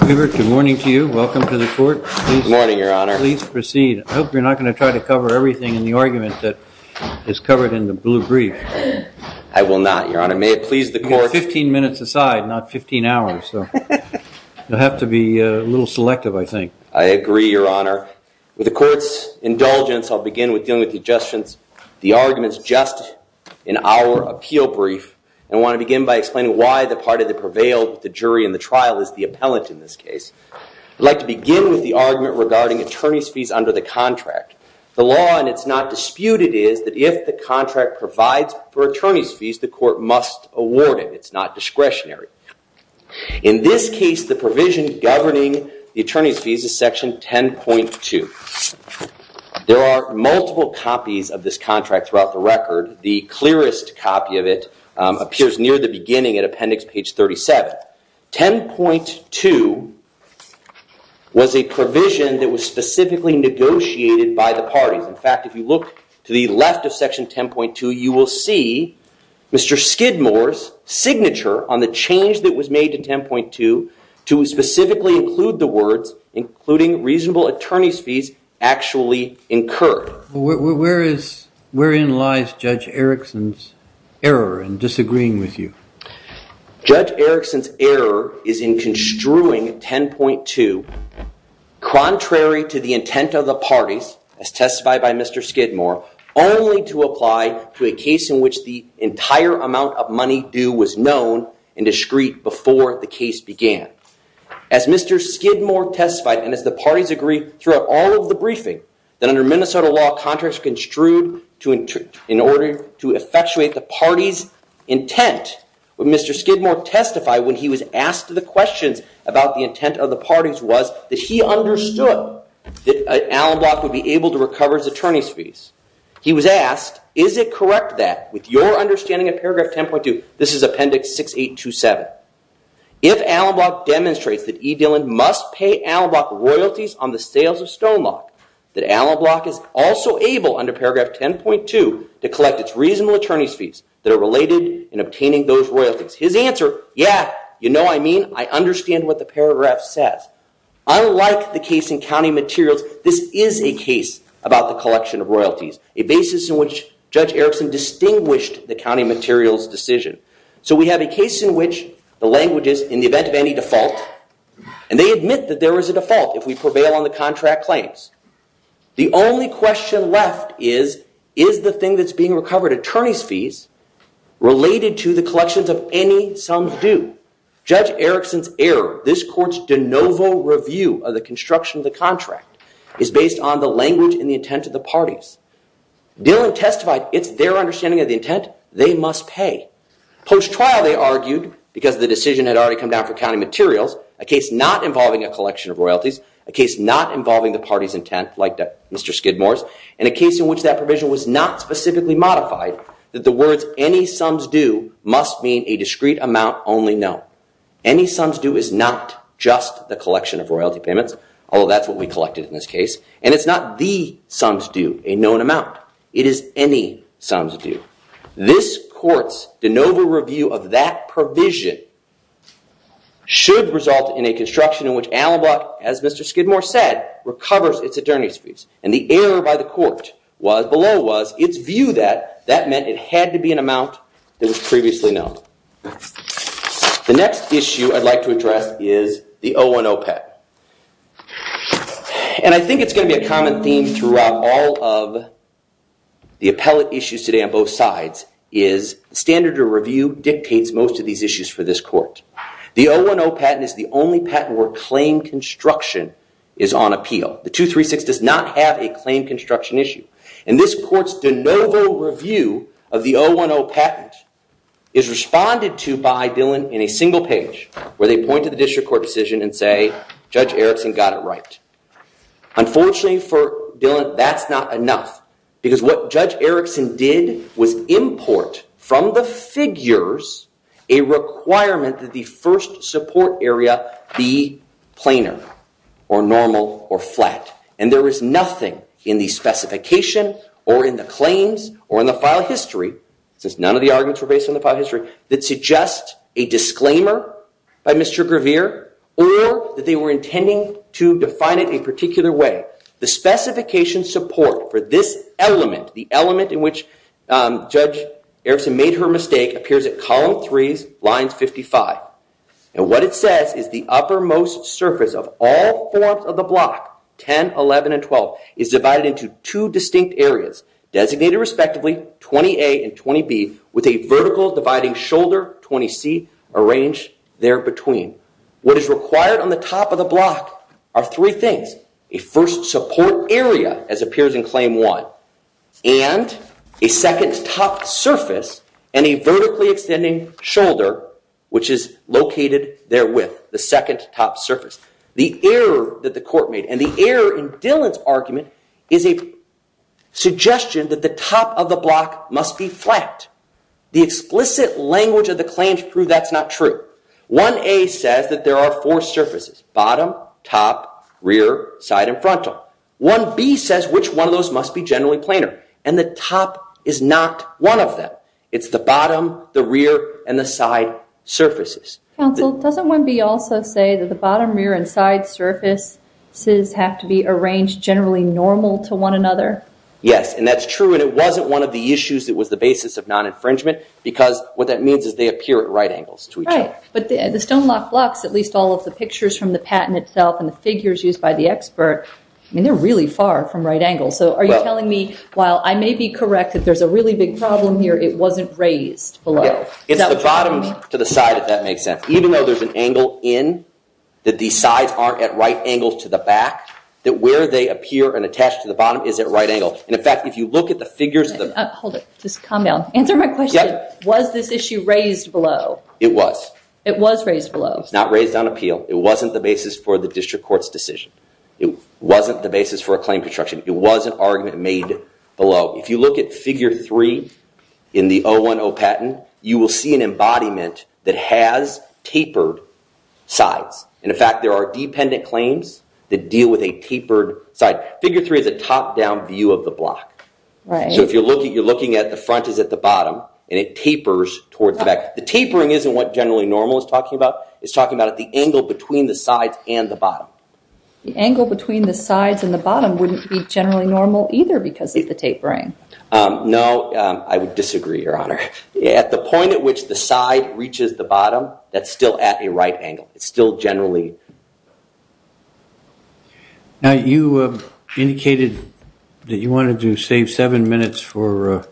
Good morning to you. Welcome to the court. Good morning, Your Honor. Please proceed. I hope you're not going to try to cover everything in the argument that is covered in the blue brief. I will not, Your Honor. May it please the court. Fifteen minutes aside, not fifteen hours. You'll have to be a little selective, I think. I agree, Your Honor. With the court's indulgence, I'll begin with dealing with the arguments just in our appeal brief, and I want to begin by explaining why the part of the jury and the trial is the appellant in this case. I'd like to begin with the argument regarding attorney's fees under the contract. The law, and it's not disputed, is that if the contract provides for attorney's fees, the court must award it. It's not discretionary. In this case, the provision governing the attorney's fees is section 10.2. There are multiple copies of this contract throughout the record. The clearest copy of it appears near the beginning at appendix page 37. 10.2 was a provision that was specifically negotiated by the parties. In fact, if you look to the left of section 10.2, you will see Mr. Skidmore's signature on the change that was made to 10.2 to specifically include the words, including reasonable attorney's fees, actually incurred. Wherein lies Judge Erickson's error in disagreeing with you? Judge Erickson's error is in construing 10.2 contrary to the intent of the parties, as testified by Mr. Skidmore, only to apply to a case in which the entire amount of money due was known and discreet before the case began. As Mr. Skidmore testified, and as the parties agree throughout all of the briefing, that under Minnesota law, contracts are construed in order to effectuate the party's intent. What Mr. Skidmore testified when he was asked the questions about the intent of the parties was that he understood that Allen Block would be able to recover his attorney's fees. He was asked, is it correct that, with your understanding of paragraph 10.2, this is appendix 6827, if Allen Block demonstrates that E. Dillon must pay Allen Block royalties on the sales of Stonelock, that Allen Block is also able, under paragraph 10.2, to collect its reasonable attorney's fees that are related in obtaining those royalties. His answer, yeah, you know I mean. I understand what the paragraph says. Unlike the case in county materials, this is a case about the collection of royalties, a basis in which Judge Erickson distinguished the county materials decision. So we have a case in which the language is, in the event of any default, and they admit that there is a default if we prevail on the contract claims. The only question left is, is the thing that's being recovered, attorney's fees, related to the collections of any sums due? Judge Erickson's error, this court's de novo review of the construction of the contract, is based on the language and the intent of the parties. Dillon testified it's their understanding of the intent, they must pay. Post-trial, they argued, because the decision had already come down for county materials, a case not involving a collection of royalties, a case not involving the party's intent, like Mr. Skidmore's, and a case in which that provision was not specifically modified, that the words any sums due must mean a discrete amount only known. Any sums due is not just the collection of royalty payments, although that's what we collected in this case, and it's not the sums due, a known amount. It is any sums due. This court's de novo review of that provision should result in a construction in which Allenbrock, as Mr. Skidmore said, recovers its attorney's fees. And the error by the court below was its view that that meant it had to be an amount that was previously known. The next issue I'd like to address is the 010 Pet. And I think it's going to be a common theme throughout all of the appellate issues today on both sides is standard of review dictates most of these issues for this court. The 010 patent is the only patent where claim construction is on appeal. The 236 does not have a claim construction issue. And this court's de novo review of the 010 patent is responded to by Dillon in a single page where they point to the district court decision and say, Judge Erickson got it right. Unfortunately for Dillon, that's not enough because what Judge Erickson did was import from the figures a requirement that the first support area be planar or normal or flat. And there is nothing in the specification or in the claims or in the file history, since none of the arguments were based on the file history, that suggests a disclaimer by Mr. Grevear or that they were intending to define it in a particular way. The specification support for this element, the element in which Judge Erickson made her mistake, appears at column 3, lines 55. And what it says is the uppermost surface of all forms of the block, 10, 11, and 12, is divided into 2 distinct areas, designated respectively 20A and 20B, with a vertical dividing shoulder, 20C, arranged there between. What is required on the top of the block are 3 things. A first support area, as appears in claim 1, and a second top surface and a vertically extending shoulder, which is located therewith, the second top surface. The error that the court made and the error in Dillon's argument is a suggestion that the top of the block must be flat. The explicit language of the claims prove that's not true. 1A says that there are 4 surfaces, bottom, top, rear, side, and frontal. 1B says which one of those must be generally planar. And the top is not one of them. It's the bottom, the rear, and the side surfaces. Counsel, doesn't 1B also say that the bottom, rear, and side surfaces have to be arranged generally normal to one another? Yes, and that's true. And it wasn't one of the issues that was the basis of non-infringement, because what that means is they appear at right angles to each other. Right, but the stone block blocks, at least all of the pictures from the patent itself and the figures used by the expert, they're really far from right angles. So are you telling me, while I may be correct that there's a really big problem here, it wasn't raised below? It's the bottom to the side, if that makes sense. Even though there's an angle in that the sides aren't at right angles to the back, that where they appear and attach to the bottom is at right angle. And in fact, if you look at the figures that- Hold it, just calm down. Answer my question. Was this issue raised below? It was. It was raised below. It's not raised on appeal. It wasn't the basis for the district court's decision. It wasn't the basis for a claim construction. It was an argument made below. If you look at figure three in the 010 patent, you will see an embodiment that has tapered sides. In fact, there are dependent claims that deal with a tapered side. Figure three is a top-down view of the block. So if you're looking at it, the front is at the bottom, and it tapers towards the back. The tapering isn't what generally normal is talking about. It's talking about the angle between the sides and the bottom. The angle between the sides and the bottom wouldn't be generally normal either because of the tapering. No, I would disagree, Your Honor. At the point at which the side reaches the bottom, that's still at a right angle. It's still generally- Now, you indicated that you wanted to save seven minutes for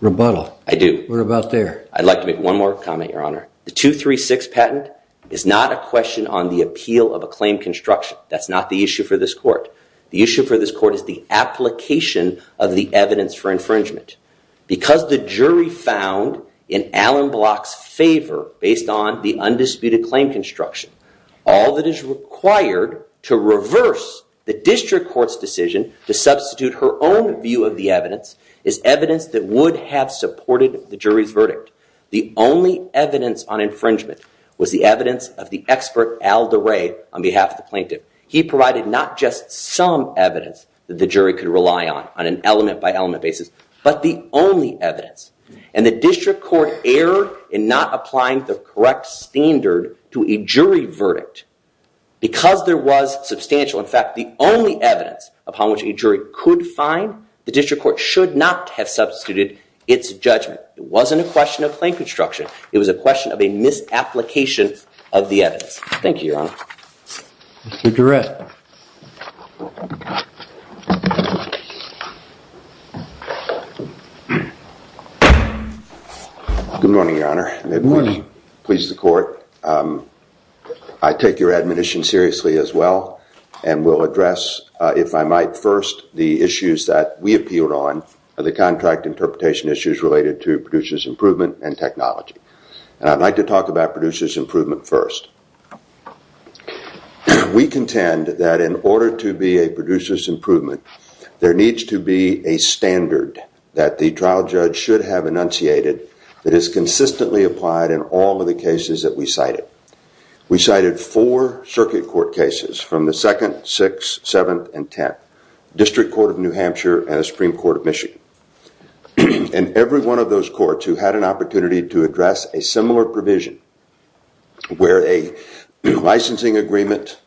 rebuttal. I do. What about there? I'd like to make one more comment, Your Honor. The 236 patent is not a question on the appeal of a claim construction. That's not the issue for this court. The issue for this court is the application of the evidence for infringement. Because the jury found in Allen Block's favor, based on the undisputed claim construction, all that is required to reverse the district court's decision to substitute her own view of the evidence is evidence that would have supported the jury's verdict. The only evidence on infringement was the evidence of the expert, Al DeRay, on behalf of the plaintiff. He provided not just some evidence that the jury could rely on, on an element-by-element basis, but the only evidence. And the district court erred in not applying the correct standard to a jury verdict. Because there was substantial, in fact, the only evidence upon which a jury could find, the district court should not have substituted its judgment. It wasn't a question of claim construction. It was a question of a misapplication of the evidence. Thank you, Your Honor. Mr. Durrett. Good morning, Your Honor. Good morning. It pleases the court. I take your admonition seriously as well and will address, if I might, first the issues that we appealed on of the contract interpretation issues related to producer's improvement and technology. And I'd like to talk about producer's improvement first. We contend that in order to be a producer's improvement, there needs to be a standard that the trial judge should have enunciated that is consistently applied in all of the cases that we cited. We cited four circuit court cases from the 2nd, 6th, 7th, and 10th, District Court of New Hampshire and the Supreme Court of Michigan. And every one of those courts who had an opportunity to address a similar provision where a licensing agreement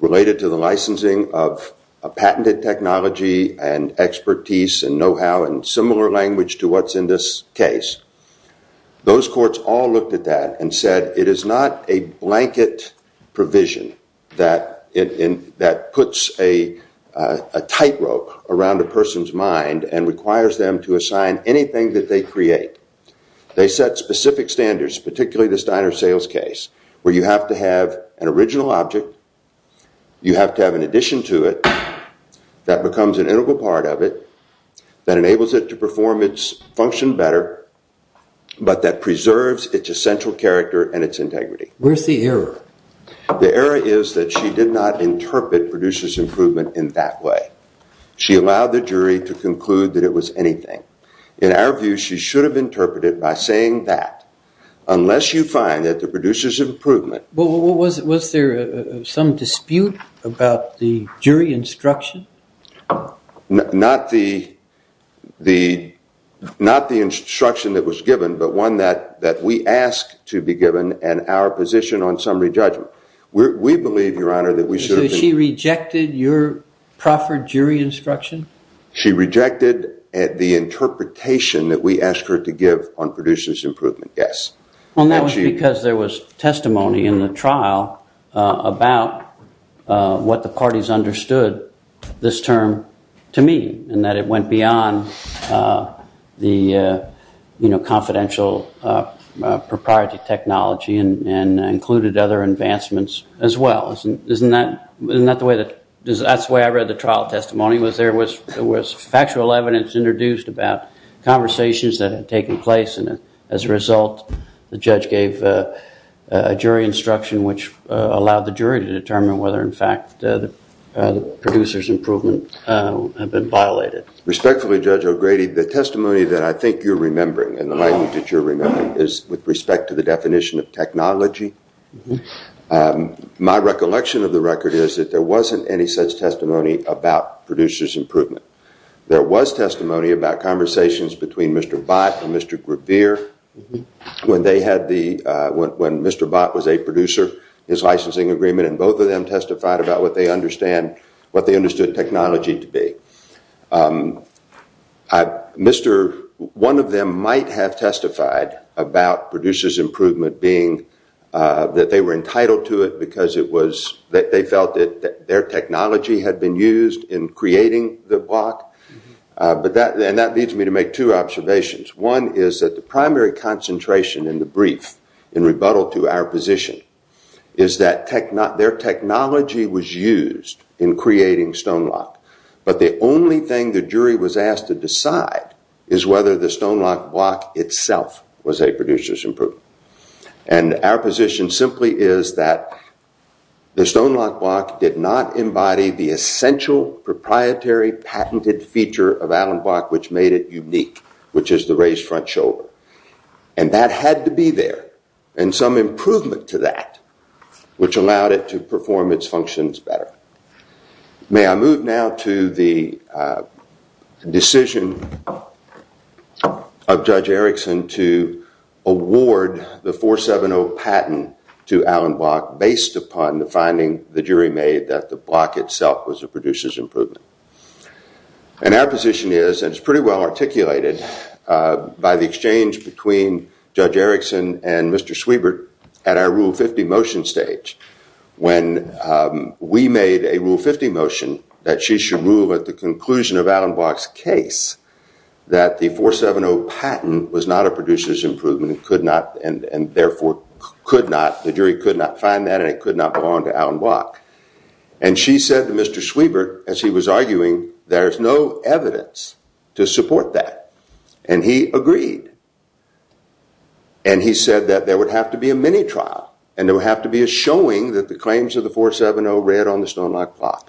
related to the licensing of a patented technology and expertise and know-how and similar language to what's in this case, those courts all looked at that and said it is not a blanket provision that puts a tightrope around a person's mind and requires them to assign anything that they create. They set specific standards, particularly this diner sales case, where you have to have an original object, you have to have an addition to it that becomes an integral part of it that enables it to perform its function better but that preserves its essential character and its integrity. Where's the error? The error is that she did not interpret producer's improvement in that way. She allowed the jury to conclude that it was anything. In our view, she should have interpreted it by saying that. Unless you find that the producer's improvement... Was there some dispute about the jury instruction? Not the instruction that was given but one that we asked to be given and our position on summary judgment. We believe, Your Honor, that we should have been... So she rejected your proffered jury instruction? She rejected the interpretation that we asked her to give on producer's improvement, yes. And that was because there was testimony in the trial about what the parties understood this term to mean and that it went beyond the confidential propriety technology and included other advancements as well. Isn't that the way that... That's the way I read the trial testimony. There was factual evidence introduced about conversations that had taken place and as a result, the judge gave a jury instruction which allowed the jury to determine whether in fact the producer's improvement had been violated. Respectfully, Judge O'Grady, the testimony that I think you're remembering and the language that you're remembering is with respect to the definition of technology. My recollection of the record is that there wasn't any such testimony about producer's improvement. There was testimony about conversations between Mr. Bott and Mr. Grevier when Mr. Bott was a producer, his licensing agreement, and both of them testified about what they understood technology to be. One of them might have testified about producer's improvement being that they were entitled to it because they felt that their technology had been used in creating the block. And that leads me to make two observations. One is that the primary concentration in the brief in rebuttal to our position is that their technology was used in creating Stonelock but the only thing the jury was asked to decide is whether the Stonelock block itself was a producer's improvement. And our position simply is that the Stonelock block did not embody the essential proprietary patented feature of Allen Block which made it unique, which is the raised front shoulder. And that had to be there and some improvement to that which allowed it to perform its functions better. May I move now to the decision of Judge Erickson to award the 470 patent to Allen Block based upon the finding the jury made that the block itself was a producer's improvement. And our position is, and it's pretty well articulated, by the exchange between Judge Erickson and Mr. Swebert at our Rule 50 motion stage when we made a Rule 50 motion that she should rule at the conclusion of Allen Block's case that the 470 patent was not a producer's improvement and therefore the jury could not find that and it could not belong to Allen Block. And she said to Mr. Swebert, as he was arguing, there's no evidence to support that. And he agreed. And he said that there would have to be a mini trial and there would have to be a showing that the claims of the 470 read on the Stonelock block.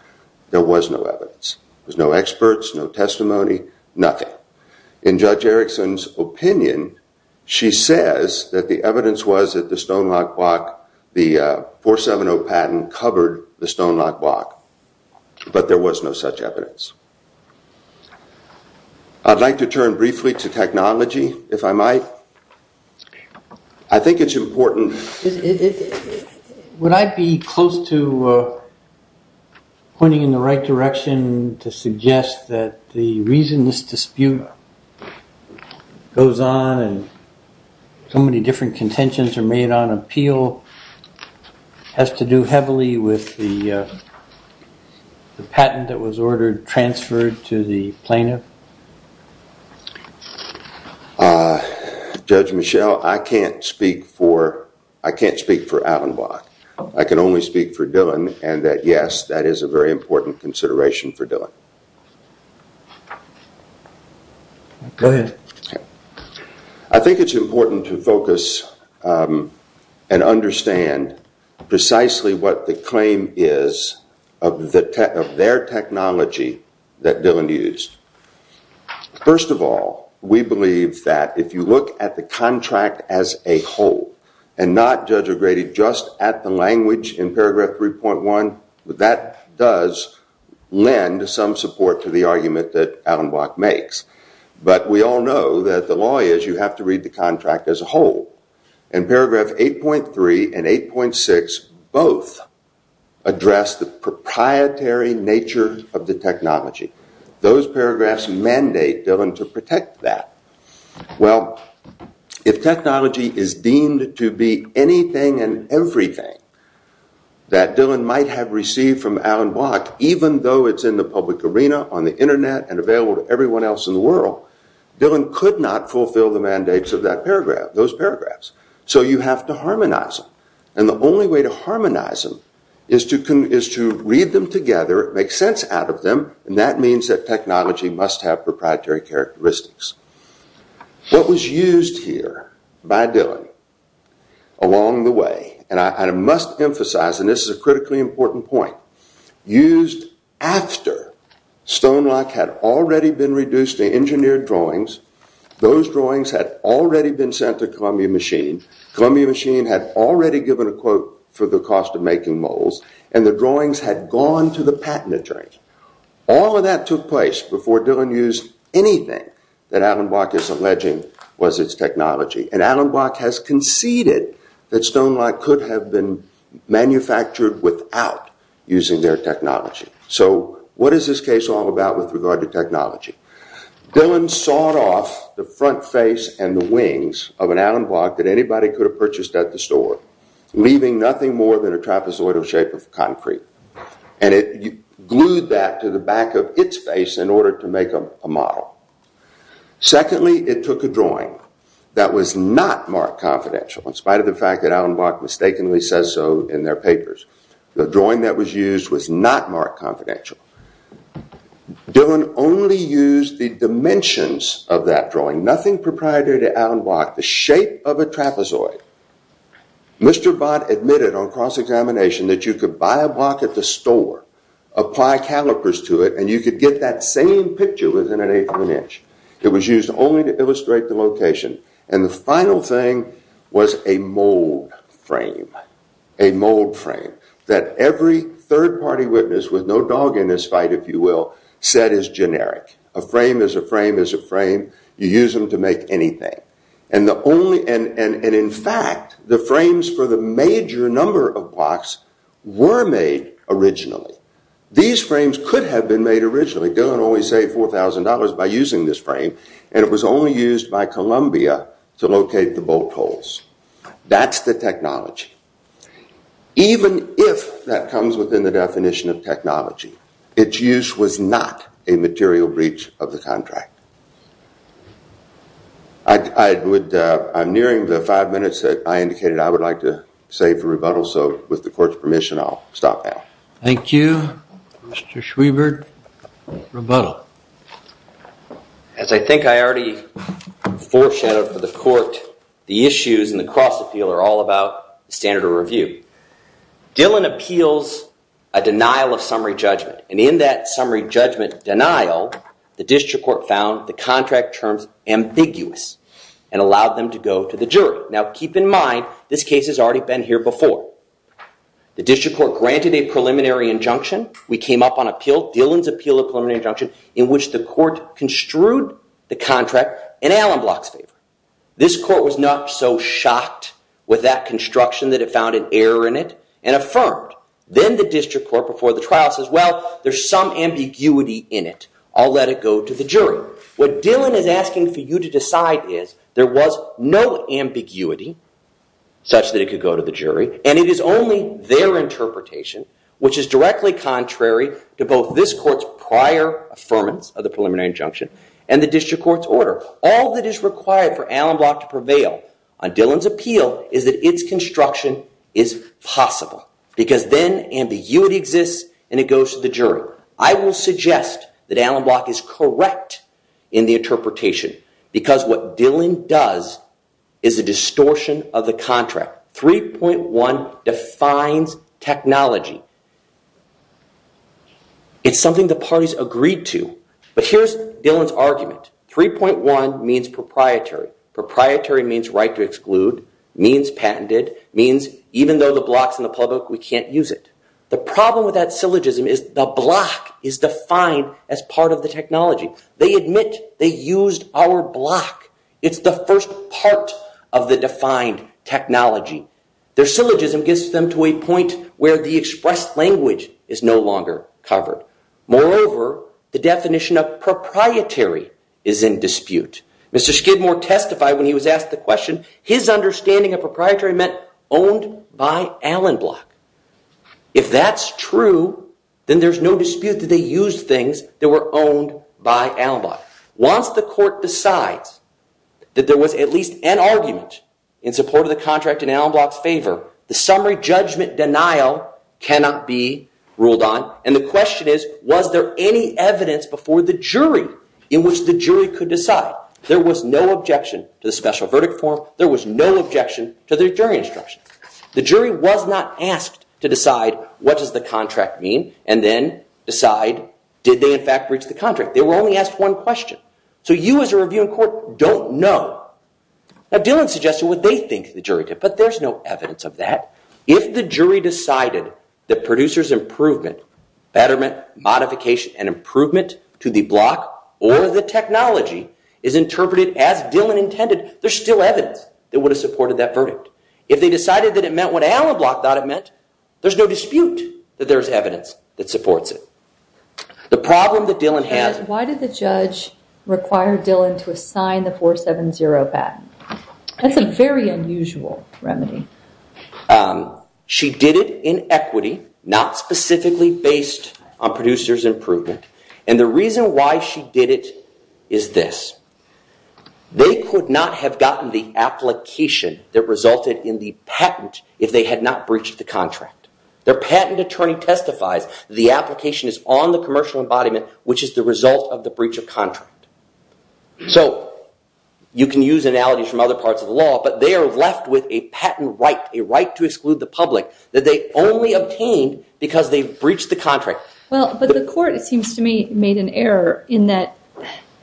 There was no evidence. There was no experts, no testimony, nothing. But in Judge Erickson's opinion, she says that the evidence was that the Stonelock block, the 470 patent covered the Stonelock block. But there was no such evidence. I'd like to turn briefly to technology, if I might. I think it's important... Would I be close to pointing in the right direction to suggest that the reason this dispute goes on and so many different contentions are made on appeal has to do heavily with the patent that was ordered, transferred to the plaintiff? Judge Michel, I can't speak for Allen Block. I can only speak for Dylan and that, yes, that is a very important consideration for Dylan. Go ahead. I think it's important to focus and understand precisely what the claim is of their technology that Dylan used. First of all, we believe that if you look at the contract as a whole and not, Judge O'Grady, just at the language in paragraph 3.1, that does lend some support to the argument that Allen Block makes. But we all know that the law is you have to read the contract as a whole. In paragraph 8.3 and 8.6, both address the proprietary nature of the technology. Those paragraphs mandate Dylan to protect that. Well, if technology is deemed to be anything and everything, that Dylan might have received from Allen Block, even though it's in the public arena, on the Internet, and available to everyone else in the world, Dylan could not fulfill the mandates of those paragraphs. So you have to harmonize them. And the only way to harmonize them is to read them together, make sense out of them, and that means that technology must have proprietary characteristics. What was used here by Dylan along the way, and I must emphasize, and this is a critically important point, used after Stonelock had already been reduced to engineered drawings, those drawings had already been sent to Columbia Machine, Columbia Machine had already given a quote for the cost of making molds, and the drawings had gone to the patent attorney. All of that took place before Dylan used anything that Allen Block is alleging was its technology. And Allen Block has conceded that Stonelock could have been manufactured without using their technology. So what is this case all about with regard to technology? Dylan sawed off the front face and the wings of an Allen Block that anybody could have purchased at the store, leaving nothing more than a trapezoidal shape of concrete. And it glued that to the back of its face in order to make a model. Secondly, it took a drawing that was not marked confidential, in spite of the fact that Allen Block mistakenly says so in their papers. The drawing that was used was not marked confidential. Dylan only used the dimensions of that drawing, nothing proprietary to Allen Block, the shape of a trapezoid. Mr. Block admitted on cross-examination that you could buy a block at the store, apply calipers to it, and you could get that same picture within an eighth of an inch. It was used only to illustrate the location. And the final thing was a mold frame. A mold frame that every third-party witness, with no dog in this fight, if you will, said is generic. A frame is a frame is a frame. You use them to make anything. And in fact, the frames for the major number of blocks were made originally. These frames could have been made originally. Dylan only saved $4,000 by using this frame, and it was only used by Columbia to locate the bolt holes. That's the technology. Even if that comes within the definition of technology, its use was not a material breach of the contract. I'm nearing the five minutes that I indicated I would like to save for rebuttal, so with the court's permission, I'll stop now. Thank you. Mr. Schwiebert, rebuttal. As I think I already foreshadowed for the court, the issues in the cross-appeal are all about standard of review. Dylan appeals a denial of summary judgment, and in that summary judgment denial, the district court found the contract terms ambiguous and allowed them to go to the jury. Now, keep in mind, this case has already been here before. The district court granted a preliminary injunction. We came up on appeal, Dylan's appeal of preliminary injunction, in which the court construed the contract in Allen Block's favor. This court was not so shocked with that construction that it found an error in it and affirmed. Then the district court, before the trial, says, well, there's some ambiguity in it. I'll let it go to the jury. What Dylan is asking for you to decide is, there was no ambiguity such that it could go to the jury, and it is only their interpretation, which is directly contrary to both this court's prior affirmance of the preliminary injunction and the district court's order. All that is required for Allen Block to prevail on Dylan's appeal is that its construction is possible, because then ambiguity exists and it goes to the jury. I will suggest that Allen Block is correct in the interpretation, because what Dylan does is a distortion of the contract. 3.1 defines technology. It's something the parties agreed to. But here's Dylan's argument. 3.1 means proprietary. Proprietary means right to exclude, means patented, means even though the block's in the public, we can't use it. The problem with that syllogism is the block is defined as part of the technology. They admit they used our block. It's the first part of the defined technology. Their syllogism gets them to a point where the expressed language is no longer covered. Moreover, the definition of proprietary is in dispute. Mr. Skidmore testified when he was asked the question, his understanding of proprietary meant owned by Allen Block. If that's true, then there's no dispute that they used things that were owned by Allen Block. Once the court decides that there was at least an argument in support of the contract in Allen Block's favor, the summary judgment denial cannot be ruled on. And the question is, was there any evidence before the jury in which the jury could decide? There was no objection to the special verdict form. There was no objection to the jury instruction. The jury was not asked to decide what does the contract mean and then decide did they in fact breach the contract. They were only asked one question. So you as a review in court don't know. Now, Dillon suggested what they think the jury did, but there's no evidence of that. If the jury decided that producer's improvement, betterment, modification, and improvement to the block or the technology is interpreted as Dillon intended, there's still evidence that would have supported that verdict. If they decided that it meant what Allen Block thought it meant, there's no dispute that there's evidence that supports it. The problem that Dillon has... Why did the judge require Dillon to assign the 470 patent? That's a very unusual remedy. She did it in equity, not specifically based on producer's improvement. And the reason why she did it is this. They could not have gotten the application that resulted in the patent if they had not breached the contract. Their patent attorney testifies the application is on the commercial embodiment which is the result of the breach of contract. So you can use analogies from other parts of the law, but they are left with a patent right, a right to exclude the public that they only obtained because they breached the contract. Well, but the court, it seems to me, made an error in that...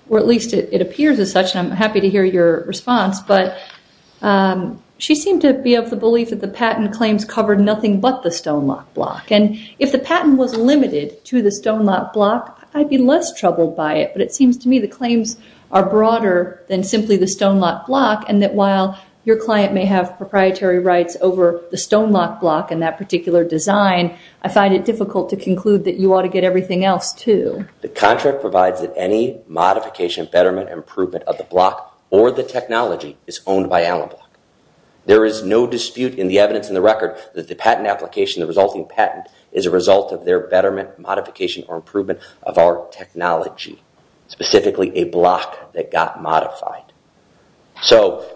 Or at least it appears as such, and I'm happy to hear your response, but she seemed to be of the belief that the patent claims covered nothing but the Stonelock Block. And if the patent was limited to the Stonelock Block, I'd be less troubled by it, but it seems to me the claims are broader than simply the Stonelock Block and that while your client may have proprietary rights over the Stonelock Block and that particular design, I find it difficult to conclude that you ought to get everything else, too. The contract provides that any modification, betterment, improvement of the block or the technology is owned by analog. There is no dispute in the evidence in the record that the patent application, the resulting patent, is a result of their betterment, modification or improvement of our technology, specifically a block that got modified. So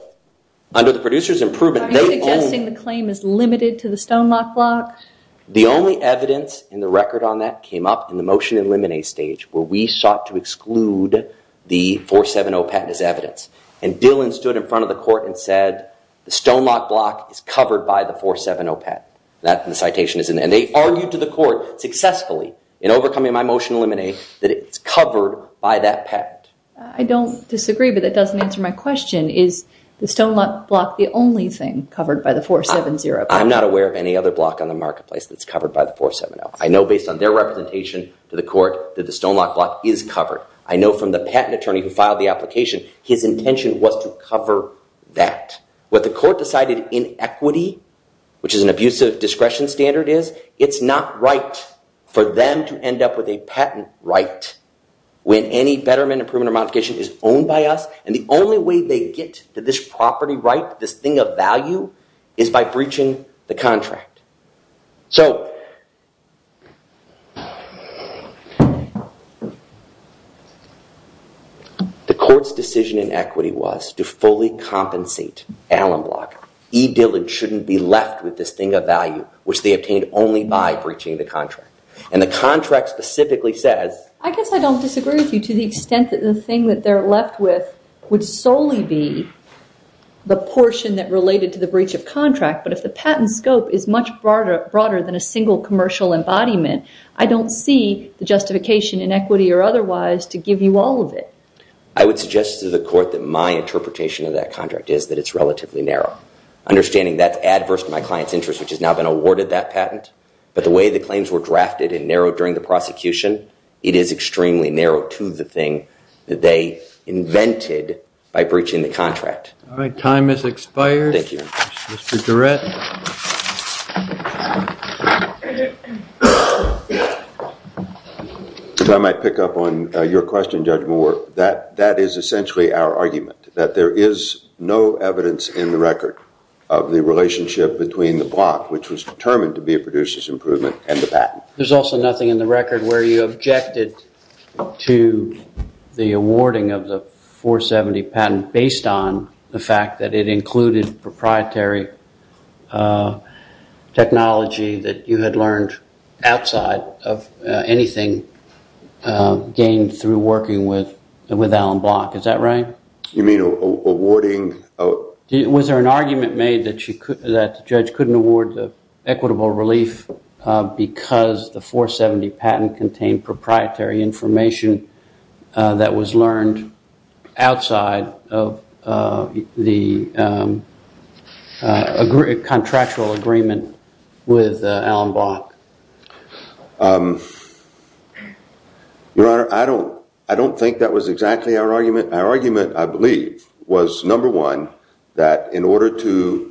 under the producer's improvement... Are you suggesting the claim is limited to the Stonelock Block? The only evidence in the record on that came up in the motion to eliminate stage where we sought to exclude the 470 patent as evidence. And Dillon stood in front of the court and said, the Stonelock Block is covered by the 470 patent. And they argued to the court successfully in overcoming my motion to eliminate that it's covered by that patent. I don't disagree, but that doesn't answer my question. Is the Stonelock Block the only thing covered by the 470 patent? I'm not aware of any other block on the marketplace that's covered by the 470. I know based on their representation to the court that the Stonelock Block is covered. I know from the patent attorney who filed the application, his intention was to cover that. What the court decided in equity, which is an abusive discretion standard, is it's not right for them to end up with a patent right when any betterment, improvement or modification is owned by us. And the only way they get to this property right, this thing of value, is by breaching the contract. The court's decision in equity was to fully compensate Allen Block. E. Dillon shouldn't be left with this thing of value, which they obtained only by breaching the contract. And the contract specifically says... I guess I don't disagree with you to the extent that the thing that they're left with would solely be the portion that related to the breach of contract. But if the patent scope is much broader than a single commercial embodiment, I don't see the justification in equity or otherwise to give you all of it. I would suggest to the court that my interpretation of that contract is that it's relatively narrow. Understanding that's adverse to my client's interest, which has now been awarded that patent. But the way the claims were drafted and narrowed during the prosecution, it is extremely narrow to the thing that they invented by breaching the contract. All right. Time has expired. Thank you. Mr. Durrett. If I might pick up on your question, Judge Moore. That is essentially our argument, that there is no evidence in the record of the relationship between the block, which was determined to be a producer's improvement, and the patent. There's also nothing in the record where you objected to the awarding of the 470 patent based on the fact that it included proprietary technology that you had learned outside of anything gained through working with Alan Block. Is that right? You mean awarding? Was there an argument made that the judge couldn't award the equitable relief because the 470 patent contained proprietary information that was learned outside of the contractual agreement with Alan Block? Your Honor, I don't think that was exactly our argument. Our argument, I believe, was, number one, there had to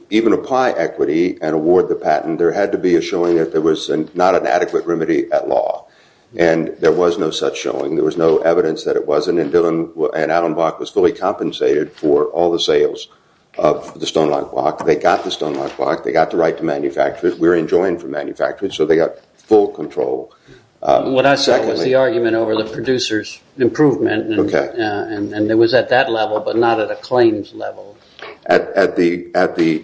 be a showing that there was not an adequate remedy at law. And there was no such showing. There was no evidence that it wasn't. And Alan Block was fully compensated for all the sales of the Stonewall Block. They got the Stonewall Block. They got the right to manufacture it. We were enjoined for manufacturing, so they got full control. What I saw was the argument over the producer's improvement. And it was at that level, but not at a claims level. At the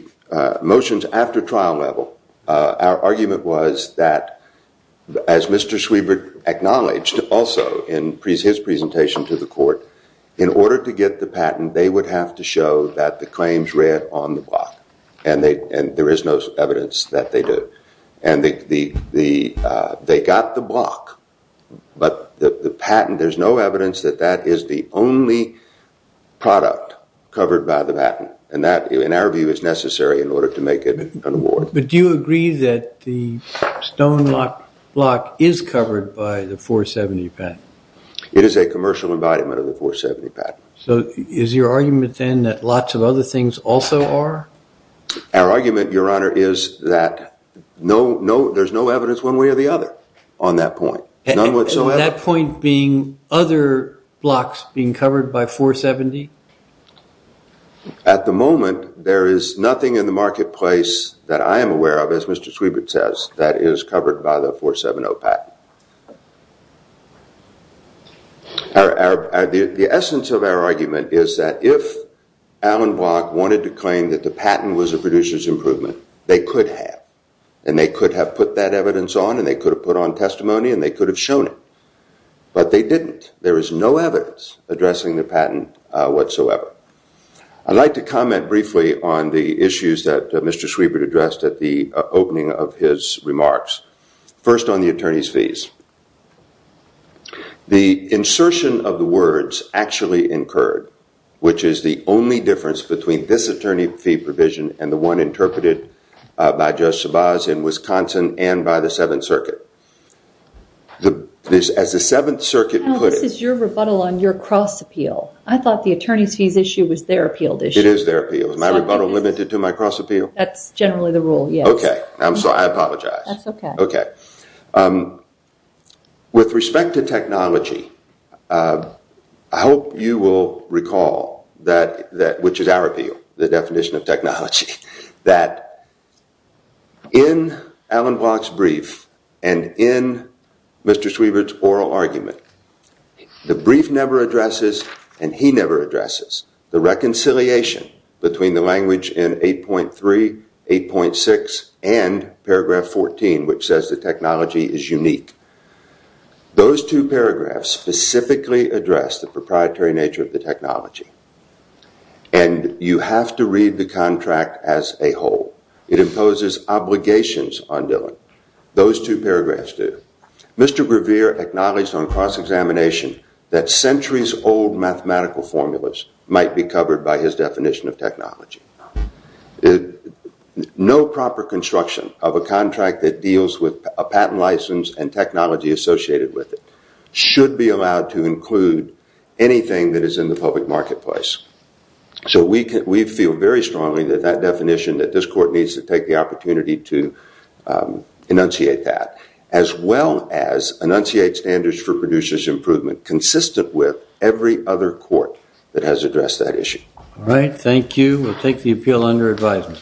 motions after trial level, our argument was that, as Mr. Schwiebert acknowledged also in his presentation to the court, in order to get the patent, they would have to show that the claims read on the block. And there is no evidence that they do. And they got the block. But the patent, there's no evidence that that is the only product covered by the patent. And that, in our view, is necessary in order to make it an award. But do you agree that the Stonewall Block is covered by the 470 patent? It is a commercial embodiment of the 470 patent. So is your argument, then, that lots of other things also are? Our argument, Your Honor, is that there's no evidence one way or the other on that point. None whatsoever? So that point being other blocks being covered by 470? At the moment, there is nothing in the marketplace that I am aware of, as Mr. Schwiebert says, that is covered by the 470 patent. The essence of our argument is that if Allen Block wanted to claim that the patent was a producer's improvement, they could have. And they could have put that evidence on, and they could have put on testimony, and they could have shown it. But they didn't. There is no evidence addressing the patent whatsoever. I'd like to comment briefly on the issues that Mr. Schwiebert addressed at the opening of his remarks. First, on the attorney's fees. The insertion of the words, actually incurred, which is the only difference between this attorney fee provision and the one interpreted by Judge Sebas in Wisconsin and by the Seventh Circuit. As the Seventh Circuit put it- No, this is your rebuttal on your cross-appeal. I thought the attorney's fees issue was their appealed issue. It is their appeal. Is my rebuttal limited to my cross-appeal? That's generally the rule, yes. OK. I'm sorry. I apologize. That's OK. OK. With respect to technology, I hope you will recall, which is our appeal, the definition of technology, that in Alan Block's brief and in Mr. Schwiebert's oral argument, the brief never addresses, and he never addresses, the reconciliation between the language in 8.3, 8.6, and paragraph 14, which says the technology is unique. Those two paragraphs specifically address the proprietary nature of the technology. And you have to read the contract as a whole. It imposes obligations on Dillon. Those two paragraphs do. Mr. Grevear acknowledged on cross-examination that centuries-old mathematical formulas might be covered by his definition of technology. No proper construction of a contract that deals with a patent license and technology associated with it should be allowed to include anything that is in the public marketplace. So we feel very strongly that that definition, that this court needs to take the opportunity to enunciate that, as well as enunciate standards for producer's improvement consistent with every other court that has addressed that issue. All right. Thank you. We'll take the appeal under advisement.